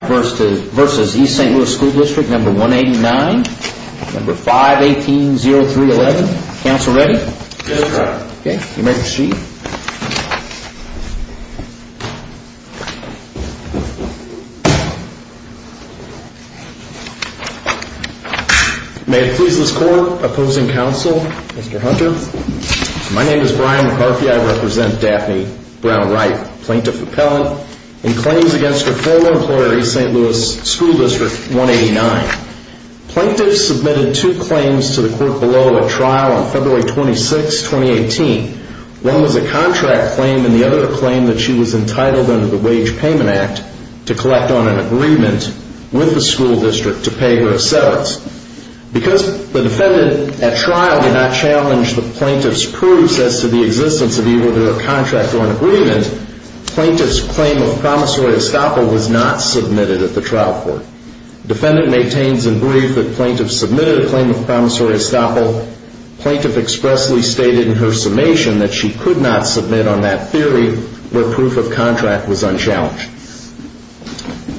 v. East St. Louis School District No. 189, No. 518-0311. Counsel ready? Yes, Your Honor. Okay, you may proceed. May it please this Court, Opposing Counsel, Mr. Hunter. My name is Brian McCarthy. I represent Daphne Brown-Wright, Plaintiff Appellant, in claims against her former employer, East St. Louis School District 189. Plaintiffs submitted two claims to the Court below at trial on February 26, 2018. One was a contract claim, and the other a claim that she was entitled under the Wage Payment Act to collect on an agreement with the school district to pay her assets. Because the defendant at trial did not challenge the plaintiff's proofs as to the existence of either a contract or an agreement, plaintiff's claim of promissory estoppel was not submitted at the trial court. Defendant maintains in brief that plaintiff submitted a claim of promissory estoppel. Plaintiff expressly stated in her summation that she could not submit on that theory, where proof of contract was unchallenged.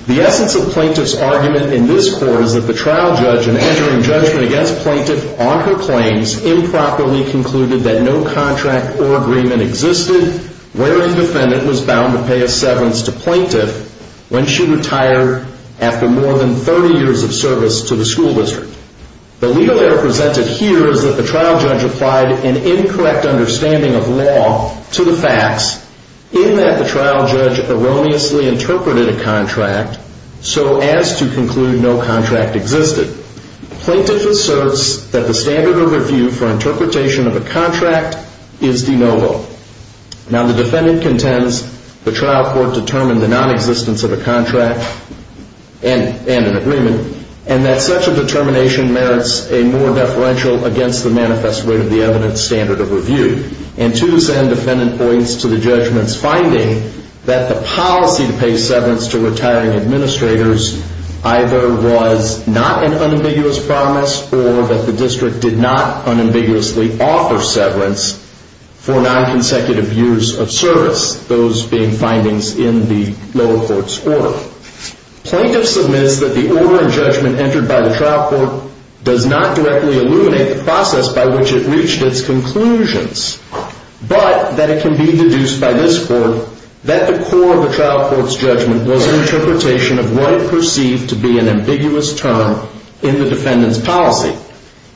The essence of plaintiff's argument in this court is that the trial judge, in entering judgment against plaintiff on her claims, improperly concluded that no contract or agreement existed, wherein defendant was bound to pay a severance to plaintiff when she retired after more than 30 years of service to the school district. The legal error presented here is that the trial judge applied an incorrect understanding of law to the facts, in that the trial judge erroneously interpreted a contract so as to conclude no contract existed. Plaintiff asserts that the standard of review for interpretation of a contract is de novo. Now, the defendant contends the trial court determined the nonexistence of a contract and an agreement, and that such a determination merits a more deferential against the manifest rate of the evidence standard of review. And to this end, defendant points to the judgment's finding that the policy to pay severance to retiring administrators either was not an unambiguous promise or that the district did not unambiguously offer severance for nonconsecutive years of service, those being findings in the lower court's order. Plaintiff submits that the order and judgment entered by the trial court does not directly illuminate the process by which it reached its conclusions, but that it can be deduced by this court that the core of the trial court's judgment was an interpretation of what it perceived to be an ambiguous term in the defendant's policy.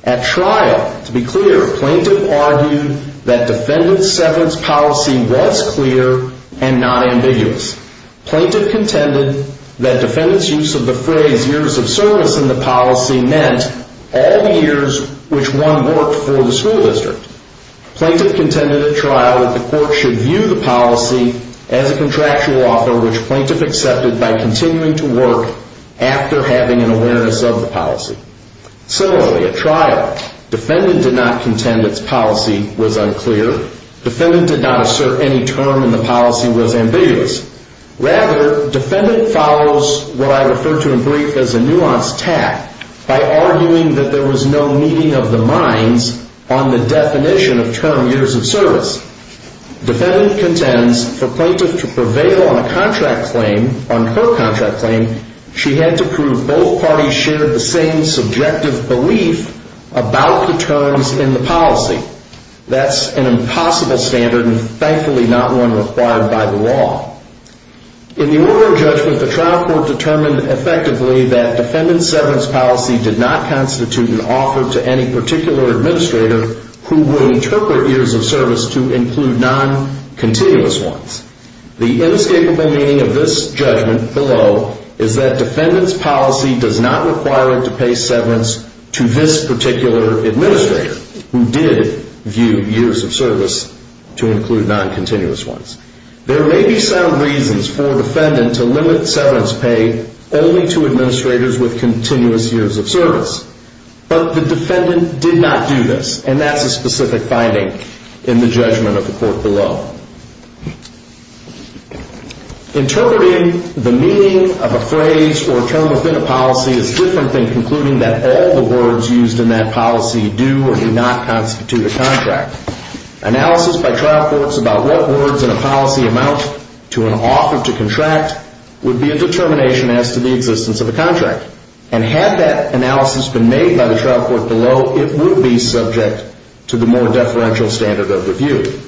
At trial, to be clear, plaintiff argued that defendant's severance policy was clear and not ambiguous. Plaintiff contended that defendant's use of the phrase years of service in the policy meant all the years which one worked for the school district. Plaintiff contended at trial that the court should view the policy as a contractual offer which plaintiff accepted by continuing to work after having an awareness of the policy. Similarly, at trial, defendant did not contend its policy was unclear. Defendant did not assert any term in the policy was ambiguous. Rather, defendant follows what I refer to in brief as a nuanced tack by arguing that there was no meeting of the minds on the definition of term years of service. Defendant contends for plaintiff to prevail on a contract claim, on her contract claim, she had to prove both parties shared the same subjective belief about the terms in the policy. That's an impossible standard and thankfully not one required by the law. In the oral judgment, the trial court determined effectively that defendant's severance policy did not constitute an offer to any particular administrator who would interpret years of service to include non-continuous ones. The inescapable meaning of this judgment below is that defendant's policy does not require it to pay severance to this particular administrator who did view years of service to include non-continuous ones. There may be some reasons for defendant to limit severance pay only to administrators with continuous years of service, but the defendant did not do this and that's a specific finding in the judgment of the court below. Interpreting the meaning of a phrase or term within a policy is different than concluding that all the words used in that policy do or do not constitute a contract. Analysis by trial courts about what words in a policy amount to an offer to contract would be a determination as to the existence of a contract. And had that analysis been made by the trial court below, it would be subject to the more deferential standard of review.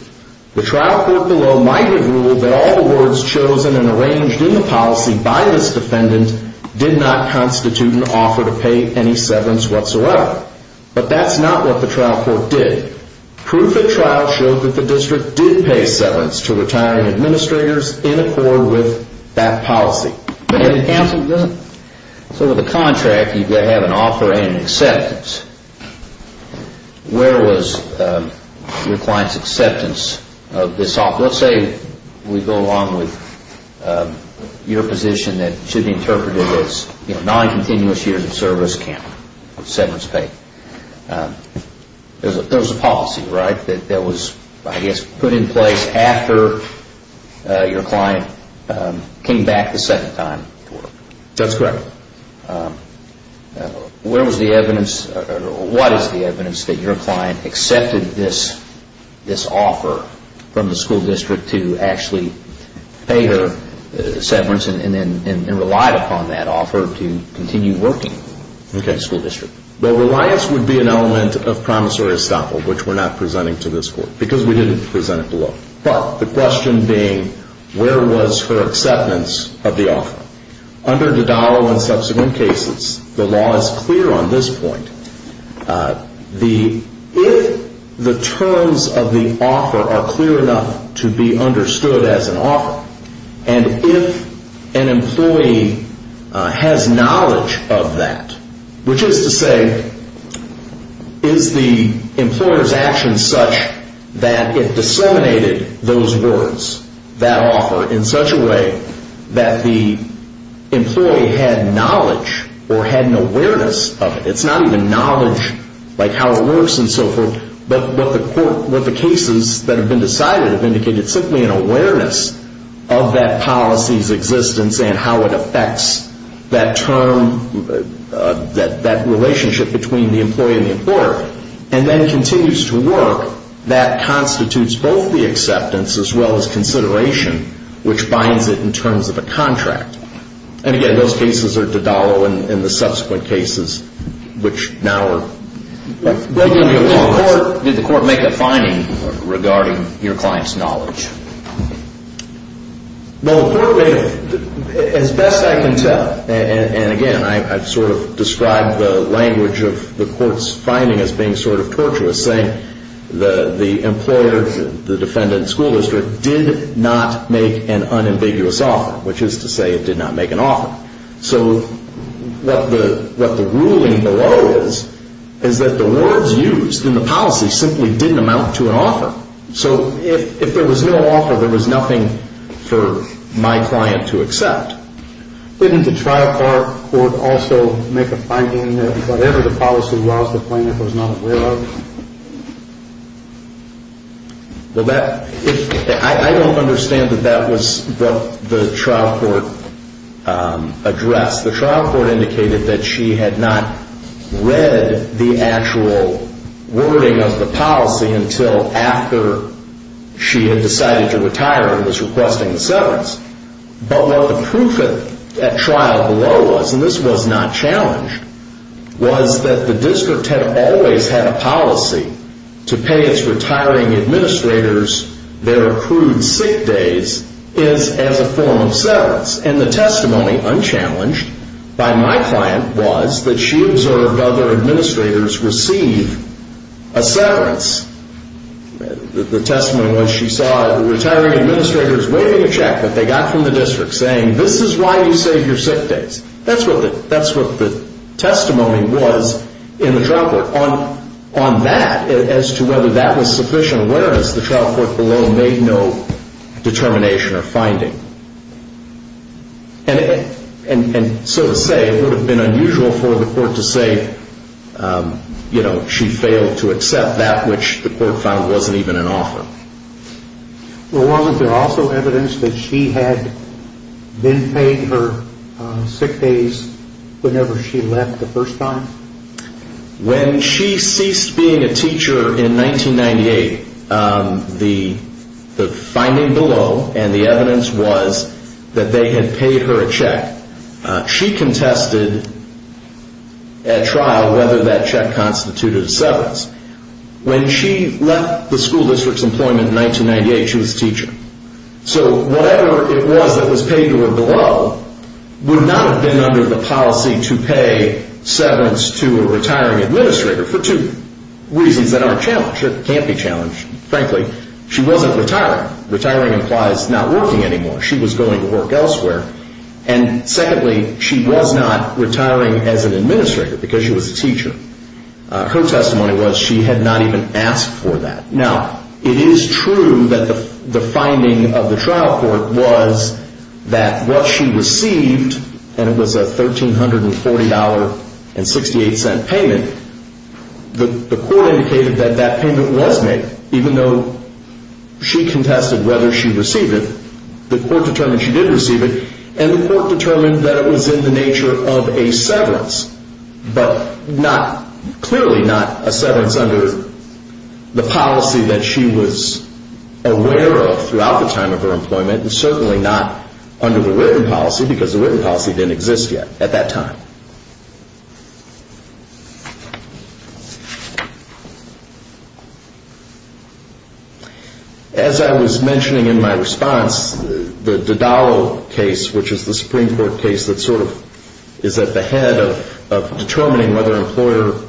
The trial court below might have ruled that all the words chosen and arranged in the policy by this defendant did not constitute an offer to pay any severance whatsoever. But that's not what the trial court did. Proof at trial showed that the district did pay severance to retiring administrators in accord with that policy. So with a contract, you have an offer and an acceptance. Where was your client's acceptance of this offer? Let's say we go along with your position that should be interpreted as non-continuous years of service count, severance pay. There was a policy, right, that was, I guess, put in place after your client came back the second time to work. That's correct. Where was the evidence or what is the evidence that your client accepted this offer from the school district to actually pay her severance and relied upon that offer to continue working in the school district? Well, reliance would be an element of promissory estoppel, which we're not presenting to this court because we didn't present it below. But the question being, where was her acceptance of the offer? Under Dodaro and subsequent cases, the law is clear on this point. If the terms of the offer are clear enough to be understood as an offer, and if an employee has knowledge of that, which is to say, is the employer's action such that it disseminated those words, that offer, in such a way that the employee had knowledge or had an awareness of it? It's not even knowledge, like how it works and so forth, but what the cases that have been decided have indicated, it's simply an awareness of that policy's existence and how it affects that term, that relationship between the employee and the employer. And then continues to work, that constitutes both the acceptance as well as consideration, which binds it in terms of a contract. And again, those cases are Dodaro and the subsequent cases, which now are particularly important. Did the court make a finding regarding your client's knowledge? Well, the court made, as best I can tell, and again, I've sort of described the language of the court's finding as being sort of tortuous, saying the employer, the defendant, school district, did not make an unambiguous offer, which is to say it did not make an offer. So what the ruling below is, is that the words used in the policy simply didn't amount to an offer. So if there was no offer, there was nothing for my client to accept. Didn't the trial court also make a finding that whatever the policy was, the plaintiff was not aware of? Well, I don't understand that that was what the trial court addressed. The trial court indicated that she had not read the actual wording of the policy until after she had decided to retire and was requesting severance. But what the proof at trial below was, and this was not challenged, was that the district had always had a policy to pay its retiring administrators their accrued sick days as a form of severance. And the testimony, unchallenged by my client, was that she observed other administrators receive a severance. The testimony was she saw the retiring administrators waiving a check that they got from the district, saying this is why you save your sick days. That's what the testimony was in the trial court. On that, as to whether that was sufficient awareness, the trial court below made no determination or finding. And so to say, it would have been unusual for the court to say she failed to accept that, which the court found wasn't even an offer. Well, was there also evidence that she had been paid her sick days whenever she left the first time? When she ceased being a teacher in 1998, the finding below and the evidence was that they had paid her a check. She contested at trial whether that check constituted a severance. When she left the school district's employment in 1998, she was a teacher. So whatever it was that was paid to her below would not have been under the policy to pay severance to a retiring administrator for two reasons that aren't challenged. It can't be challenged, frankly. She wasn't retiring. Retiring implies not working anymore. She was going to work elsewhere. And secondly, she was not retiring as an administrator because she was a teacher. Her testimony was she had not even asked for that. Now, it is true that the finding of the trial court was that what she received, and it was a $1,340.68 payment, the court indicated that that payment was made, even though she contested whether she received it. The court determined she did receive it, and the court determined that it was in the nature of a severance, but clearly not a severance under the policy that she was aware of throughout the time of her employment, and certainly not under the written policy because the written policy didn't exist yet at that time. As I was mentioning in my response, the Dadao case, which is the Supreme Court case that sort of is at the head of determining whether employer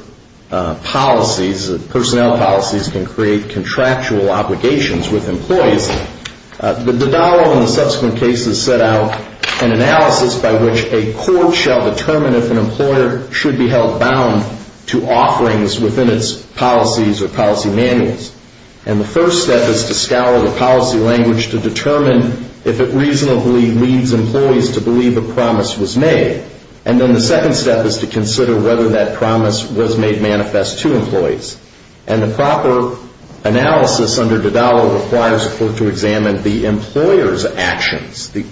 policies and personnel policies can create contractual obligations with employees, the Dadao and the subsequent cases set out an analysis by which a court shall determine if an employer should be held bound to offerings within its policies or policy manuals. And the first step is to scour the policy language to determine if it reasonably leads employees to believe a promise was made. And then the second step is to consider whether that promise was made manifest to employees. And the proper analysis under Dadao requires a court to examine the employer's actions, the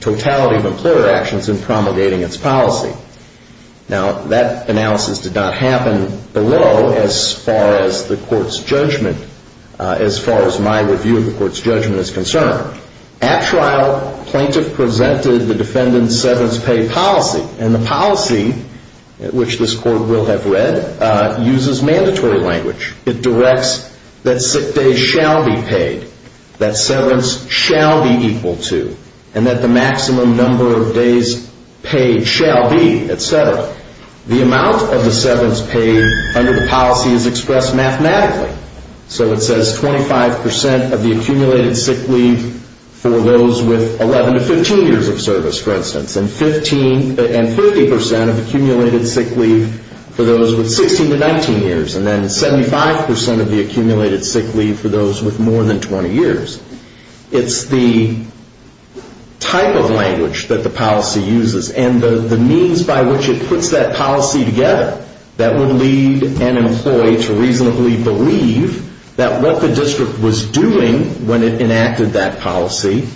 totality of employer actions in promulgating its policy. Now, that analysis did not happen below as far as the court's judgment, as far as my review of the court's judgment is concerned. At trial, plaintiff presented the defendant's severance pay policy, and the policy, which this court will have read, uses mandatory language. It directs that sick days shall be paid, that severance shall be equal to, and that the maximum number of days paid shall be, et cetera. The amount of the severance paid under the policy is expressed mathematically. So it says 25% of the accumulated sick leave for those with 11 to 15 years of service, for instance, and 50% of accumulated sick leave for those with 16 to 19 years, and then 75% of the accumulated sick leave for those with more than 20 years. It's the type of language that the policy uses and the means by which it puts that policy together that will lead an employee to reasonably believe that what the district was doing when it enacted that policy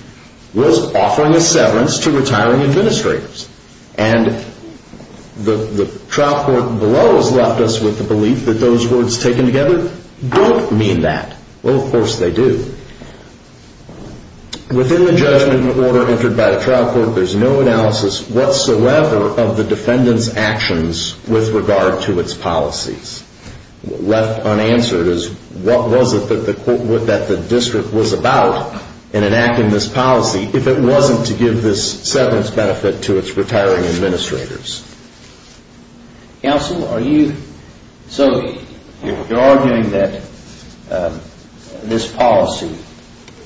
was offering a severance to retiring administrators. And the trial court below has left us with the belief that those words taken together don't mean that. Well, of course they do. Within the judgment order entered by the trial court, there's no analysis whatsoever of the defendant's actions with regard to its policies. Left unanswered is what was it that the district was about in enacting this policy if it wasn't to give this severance benefit to its retiring administrators. Counsel, are you... So you're arguing that this policy,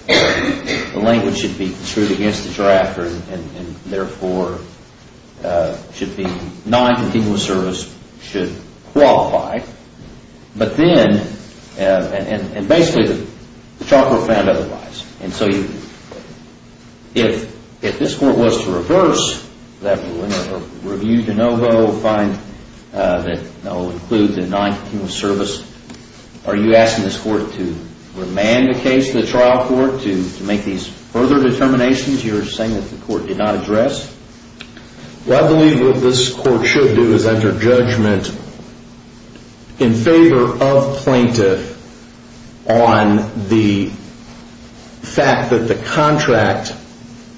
the language should be construed against the drafter and therefore should be non-continuous service should qualify. But then, and basically the trial court found otherwise. And so if this court was to reverse that or review de novo, find that it will include the non-continuous service, are you asking this court to remand the case to the trial court to make these further determinations you're saying that the court did not address? Well, I believe what this court should do is enter judgment in favor of plaintiff on the fact that the contract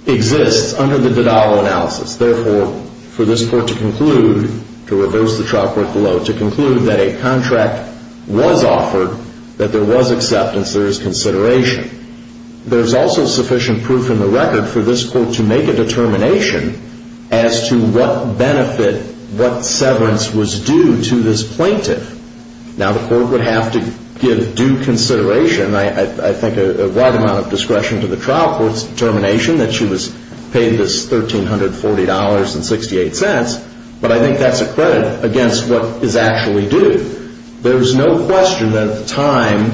exists under the de novo analysis. Therefore, for this court to conclude, to reverse the trial court below, to conclude that a contract was offered, that there was acceptance, there is consideration. There's also sufficient proof in the record for this court to make a determination as to what benefit, what severance was due to this plaintiff. Now, the court would have to give due consideration, I think a wide amount of discretion to the trial court's determination that she was paid this $1,340.68. But I think that's a credit against what is actually due. There's no question that at the time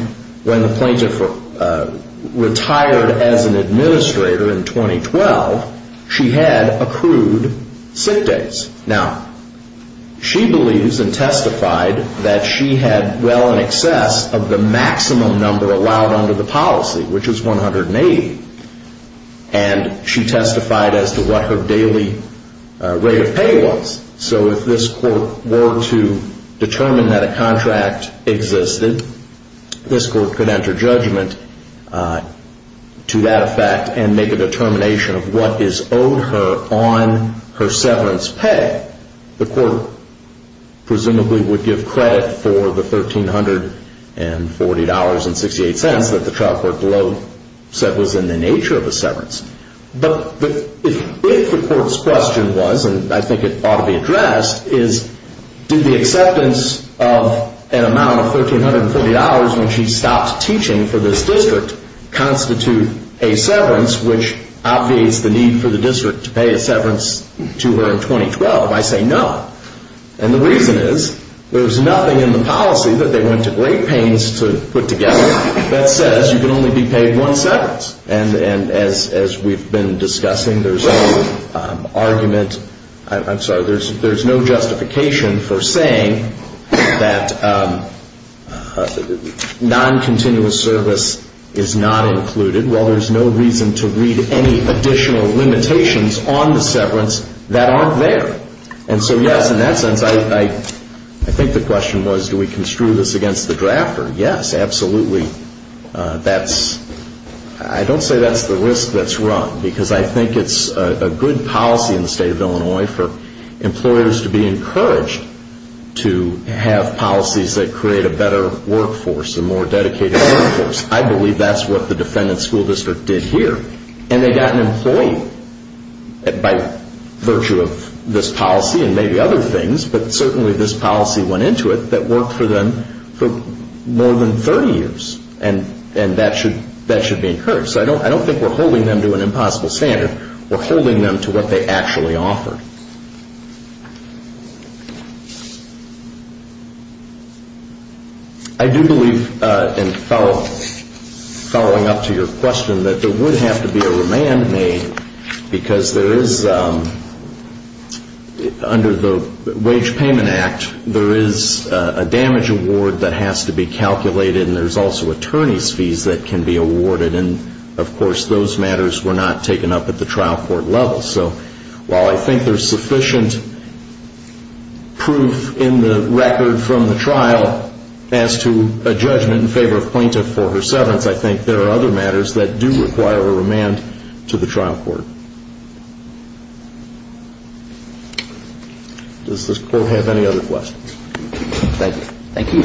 when the plaintiff retired as an administrator in 2012, she had accrued sick days. Now, she believes and testified that she had well in excess of the maximum number allowed under the policy, which is $180. And she testified as to what her daily rate of pay was. So if this court were to determine that a contract existed, this court could enter judgment to that effect and make a determination of what is owed her on her severance pay. The court presumably would give credit for the $1,340.68 that the trial court below said was in the nature of a severance. But if the court's question was, and I think it ought to be addressed, is did the acceptance of an amount of $1,340 when she stopped teaching for this district constitute a severance, which obviates the need for the district to pay a severance to her in 2012? I say no. And the reason is there's nothing in the policy that they went to great pains to put together that says you can only be paid one severance. And as we've been discussing, there's no argument, I'm sorry, there's no justification for saying that noncontinuous service is not included. Well, there's no reason to read any additional limitations on the severance that aren't there. And so, yes, in that sense, I think the question was, do we construe this against the drafter? Yes, absolutely. I don't say that's the risk that's run because I think it's a good policy in the state of Illinois for employers to be encouraged to have policies that create a better workforce, a more dedicated workforce. I believe that's what the defendant's school district did here. And they got an employee by virtue of this policy and maybe other things, but certainly this policy went into it that worked for them for more than 30 years. And that should be encouraged. So I don't think we're holding them to an impossible standard. We're holding them to what they actually offered. I do believe in following up to your question that there would have to be a remand made because there is, under the Wage Payment Act, there is a damage award that has to be calculated and there's also attorney's fees that can be awarded. And, of course, those matters were not taken up at the trial court level. So while I think there's sufficient proof in the record from the trial as to a judgment in favor of plaintiff for her severance, I think there are other matters that do require a remand to the trial court. Does this court have any other questions? Thank you.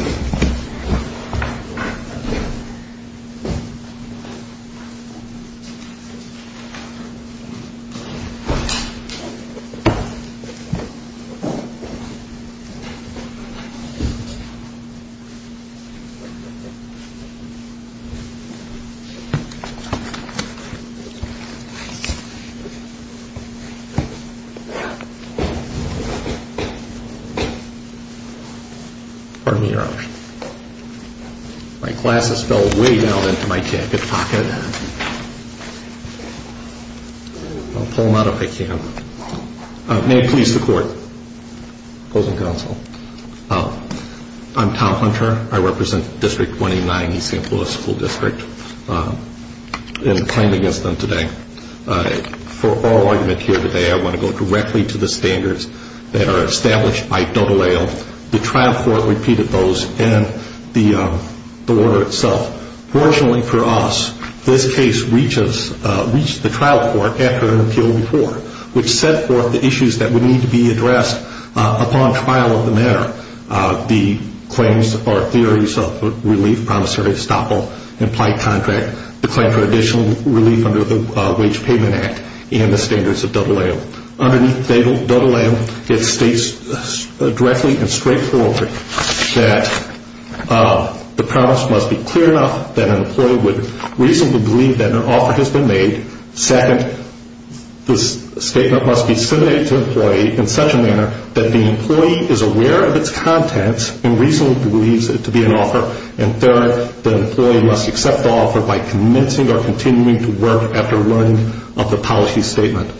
Pardon me, Your Honor. My glasses fell way down into my jacket pocket. I'll pull them out if I can. May it please the Court. Opposing counsel. I'm Tom Hunter. I represent District 29, East St. Louis School District, and I'm claiming against them today. For oral argument here today, I want to go directly to the standards that are established by Dover Lale. The trial court repeated those and the order itself. Fortunately for us, this case reached the trial court after an appeal before, which set forth the issues that would need to be addressed upon trial of the matter, the claims or theories of relief, promissory estoppel, implied contract, the claim for additional relief under the Wage Payment Act and the standards of Dover Lale. Underneath Dover Lale, it states directly and straightforwardly that the promise must be clear enough that an employee would reasonably believe that an offer has been made. Second, the statement must be submitted to the employee in such a manner that the employee is aware of its contents and reasonably believes it to be an offer. And third, the employee must accept the offer by commencing or continuing to work after learning of the policy statement.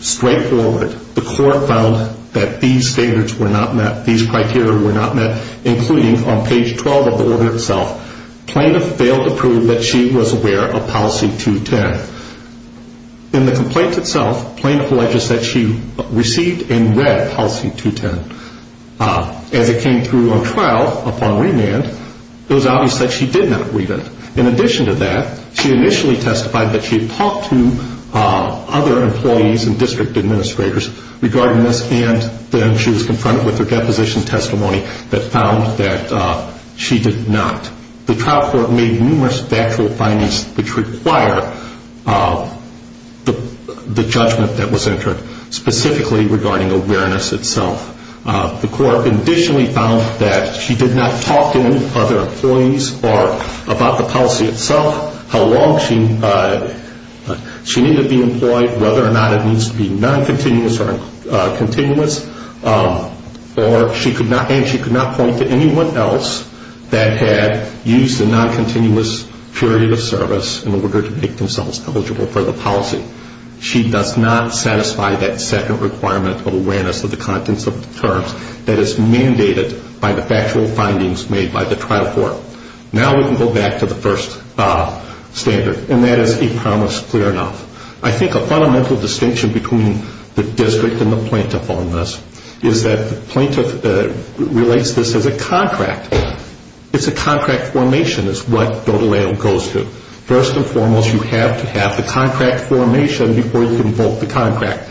Straightforward, the court found that these standards were not met, these criteria were not met, including on page 12 of the order itself. Plaintiff failed to prove that she was aware of Policy 210. In the complaint itself, plaintiff alleges that she received and read Policy 210. As it came through on trial upon remand, it was obvious that she did not read it. In addition to that, she initially testified that she had talked to other employees and district administrators regarding this, and then she was confronted with her deposition testimony that found that she did not. The trial court made numerous factual findings which require the judgment that was entered, specifically regarding awareness itself. The court additionally found that she did not talk to other employees or about the policy itself, how long she needed to be employed, whether or not it needs to be non-continuous or continuous, and she could not point to anyone else that had used a non-continuous period of service in order to make themselves eligible for the policy. She does not satisfy that second requirement of awareness of the contents of the terms that is mandated by the factual findings made by the trial court. Now we can go back to the first standard, and that is a promise clear enough. I think a fundamental distinction between the district and the plaintiff on this is that the plaintiff relates this as a contract. It's a contract formation is what dota leo goes to. First and foremost, you have to have the contract formation before you can vote the contract.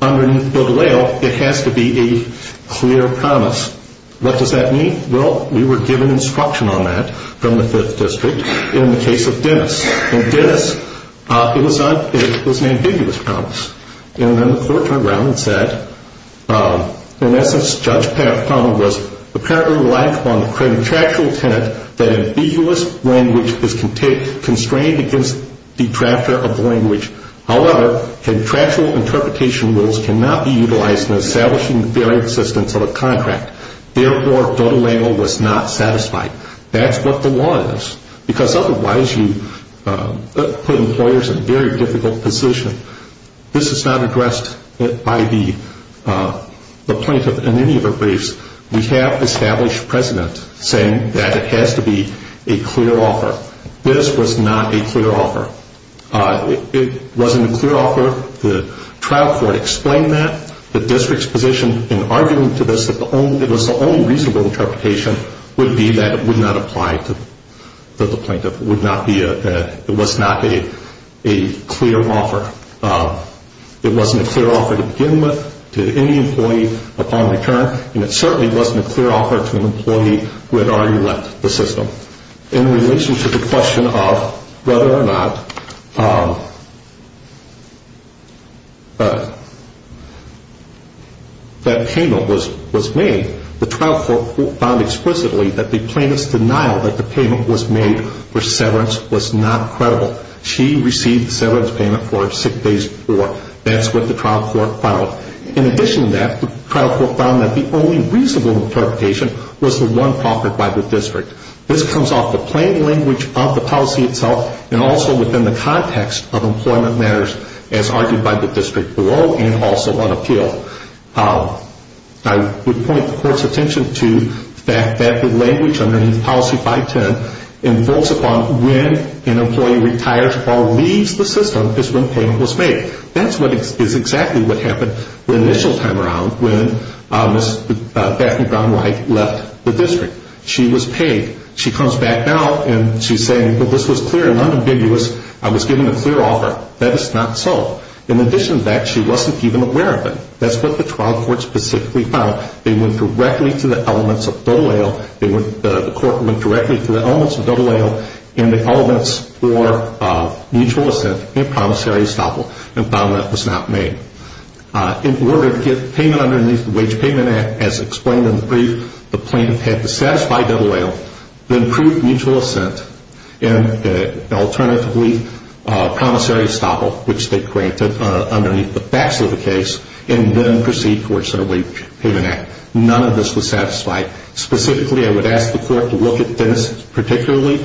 Under dota leo, it has to be a clear promise. What does that mean? Well, we were given instruction on that from the fifth district in the case of Dennis. In Dennis, it was an ambiguous promise. And then the court turned around and said, in essence, Judge Powell was apparently reliant upon the contractual tenet that ambiguous language is constrained against detractor of the language. However, contractual interpretation rules cannot be utilized in establishing the fair existence of a contract. Therefore, dota leo was not satisfied. That's what the law is. Because otherwise you put employers in a very difficult position. This is not addressed by the plaintiff in any of the briefs. We have established precedent saying that it has to be a clear offer. This was not a clear offer. It wasn't a clear offer. The trial court explained that. The district's position in arguing to this, it was the only reasonable interpretation, would be that it would not apply to the plaintiff. It was not a clear offer. It wasn't a clear offer to begin with, to any employee upon return, and it certainly wasn't a clear offer to an employee who had already left the system. In relation to the question of whether or not that payment was made, the trial court found explicitly that the plaintiff's denial that the payment was made for severance was not credible. She received the severance payment for six days before. That's what the trial court found. In addition to that, the trial court found that the only reasonable interpretation was the one offered by the district. This comes off the plain language of the policy itself and also within the context of employment matters as argued by the district below and also on appeal. I would point the court's attention to the fact that the language underneath policy 510 invokes upon when an employee retires or leaves the system is when payment was made. That's exactly what happened the initial time around when Ms. Batten-Brown-Wright left the district. She was paid. She comes back now and she's saying, well, this was clear and unambiguous. I was given a clear offer. That is not so. In addition to that, she wasn't even aware of it. That's what the trial court specifically found. They went directly to the elements of Dole Ale. The court went directly to the elements of Dole Ale and the elements for mutual assent and promissory estoppel and found that it was not made. In order to get payment underneath the Wage Payment Act, as explained in the brief, the plaintiff had to satisfy Dole Ale, then prove mutual assent, and alternatively promissory estoppel, which they granted underneath the facts of the case, and then proceed towards their Wage Payment Act. None of this was satisfied. Specifically, I would ask the court to look at this particularly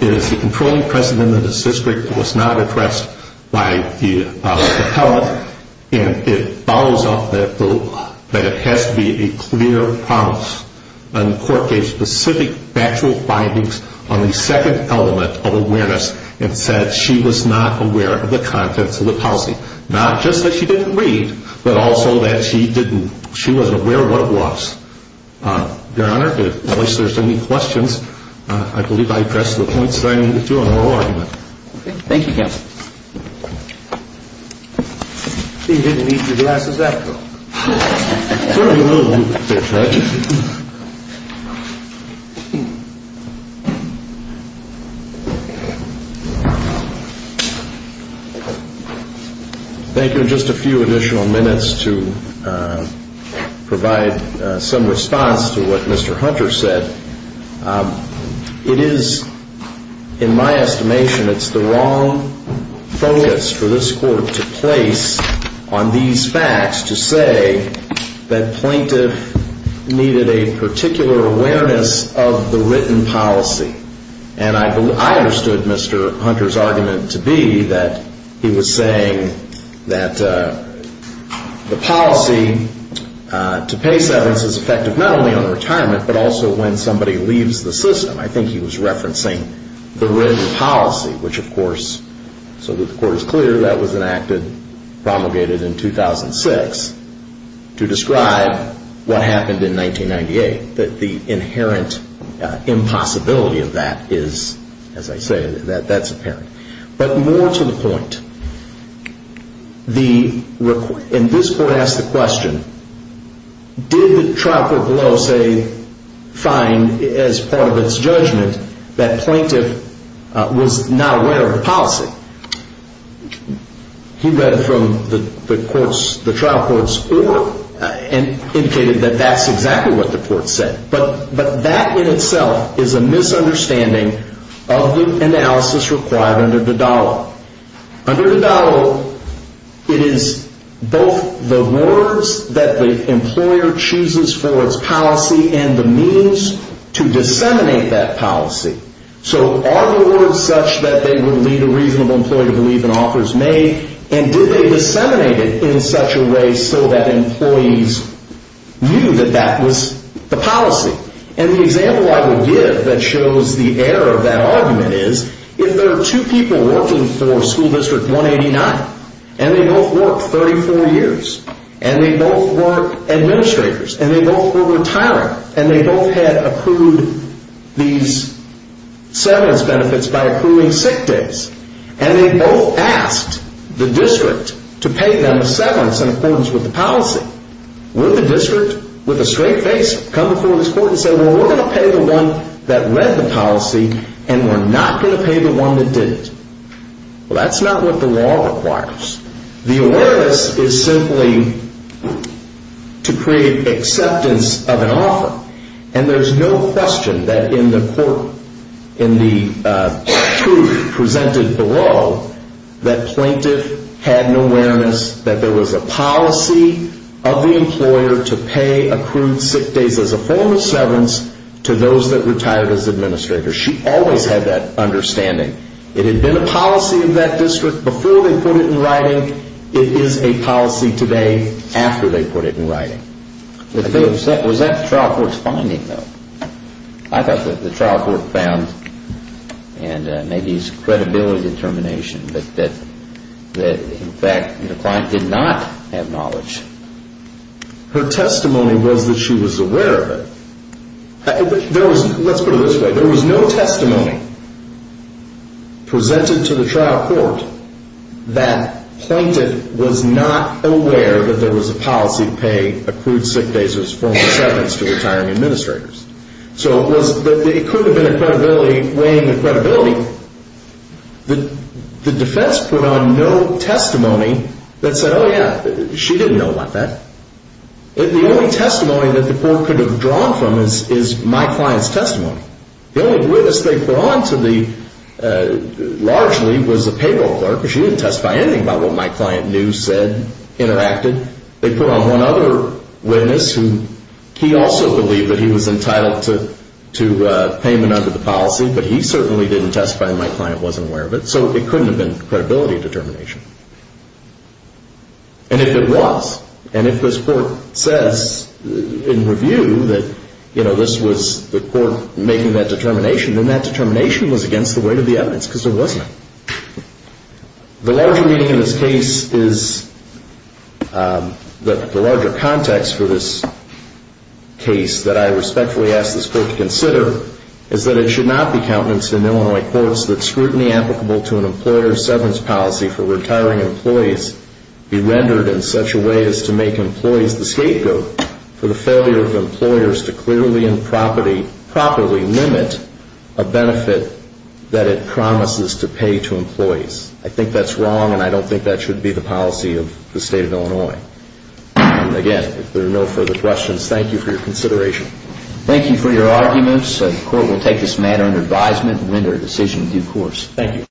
as the controlling precedent in this district was not addressed by the appellant, and it follows up that it has to be a clear promise. And the court gave specific factual findings on the second element of awareness and said she was not aware of the contents of the policy, not just that she didn't read, but also that she wasn't aware of what it was. Your Honor, unless there's any questions, I believe I pressed the points that I needed to on oral argument. Thank you, counsel. You didn't eat your glasses after all. Certainly a little bit, Judge. Thank you. Just a few additional minutes to provide some response to what Mr. Hunter said. It is, in my estimation, it's the wrong focus for this court to place on these facts to say that plaintiff needed a particular awareness of the written policy. And I understood Mr. Hunter's argument to be that he was saying that the policy to pay severance is effective not only on retirement, but also when somebody leaves the system. I think he was referencing the written policy, which, of course, so that the court is clear, that was enacted, promulgated in 2006 to describe what happened in 1998, that the inherent impossibility of that is, as I say, that's apparent. But more to the point, and this court asked the question, did the trial court below say fine as part of its judgment that plaintiff was not aware of the policy? He read from the trial court's oral and indicated that that's exactly what the court said. But that in itself is a misunderstanding of the analysis required under the dollar. Under the dollar, it is both the words that the employer chooses for its policy and the means to disseminate that policy. So are the words such that they would lead a reasonable employee to believe an offer is made? And did they disseminate it in such a way so that employees knew that that was the policy? And the example I would give that shows the error of that argument is if there are two people working for school district 189, and they both worked 34 years, and they both were administrators, and they both were retiring, and they both had accrued these severance benefits by accruing sick days, and they both asked the district to pay them a severance in accordance with the policy, would the district, with a straight face, come before this court and say, well, we're going to pay the one that read the policy, and we're not going to pay the one that didn't? Well, that's not what the law requires. The awareness is simply to create acceptance of an offer. And there's no question that in the court, in the truth presented below, that plaintiff had an awareness that there was a policy of the employer to pay accrued sick days as a form of severance to those that retired as administrators. She always had that understanding. It had been a policy of that district before they put it in writing. It is a policy today after they put it in writing. Was that the trial court's finding, though? I thought that the trial court found, and maybe it's credibility determination, that in fact the client did not have knowledge. Her testimony was that she was aware of it. Let's put it this way. There was no testimony presented to the trial court that plaintiff was not aware that there was a policy to pay accrued sick days as a form of severance to retiring administrators. So it could have been weighing the credibility. The defense put on no testimony that said, oh, yeah, she didn't know about that. The only testimony that the court could have drawn from is my client's testimony. The only witness they brought on largely was the payroll clerk, because she didn't testify anything about what my client knew, said, interacted. They put on one other witness who he also believed that he was entitled to payment under the policy, but he certainly didn't testify and my client wasn't aware of it. So it couldn't have been credibility determination. And if it was, and if this court says in review that this was the court making that determination, then that determination was against the weight of the evidence because there wasn't. The larger meaning in this case is that the larger context for this case that I respectfully ask this court to consider is that it should not be countenance in Illinois courts that scrutiny applicable to an employer's severance policy for retiring employees be rendered in such a way as to make employees the scapegoat for the failure of employers to clearly and properly limit a benefit that it promises to pay to employees. I think that's wrong and I don't think that should be the policy of the state of Illinois. Again, if there are no further questions, thank you for your consideration. Thank you for your arguments. The court will take this matter under advisement and render a decision in due course. Thank you.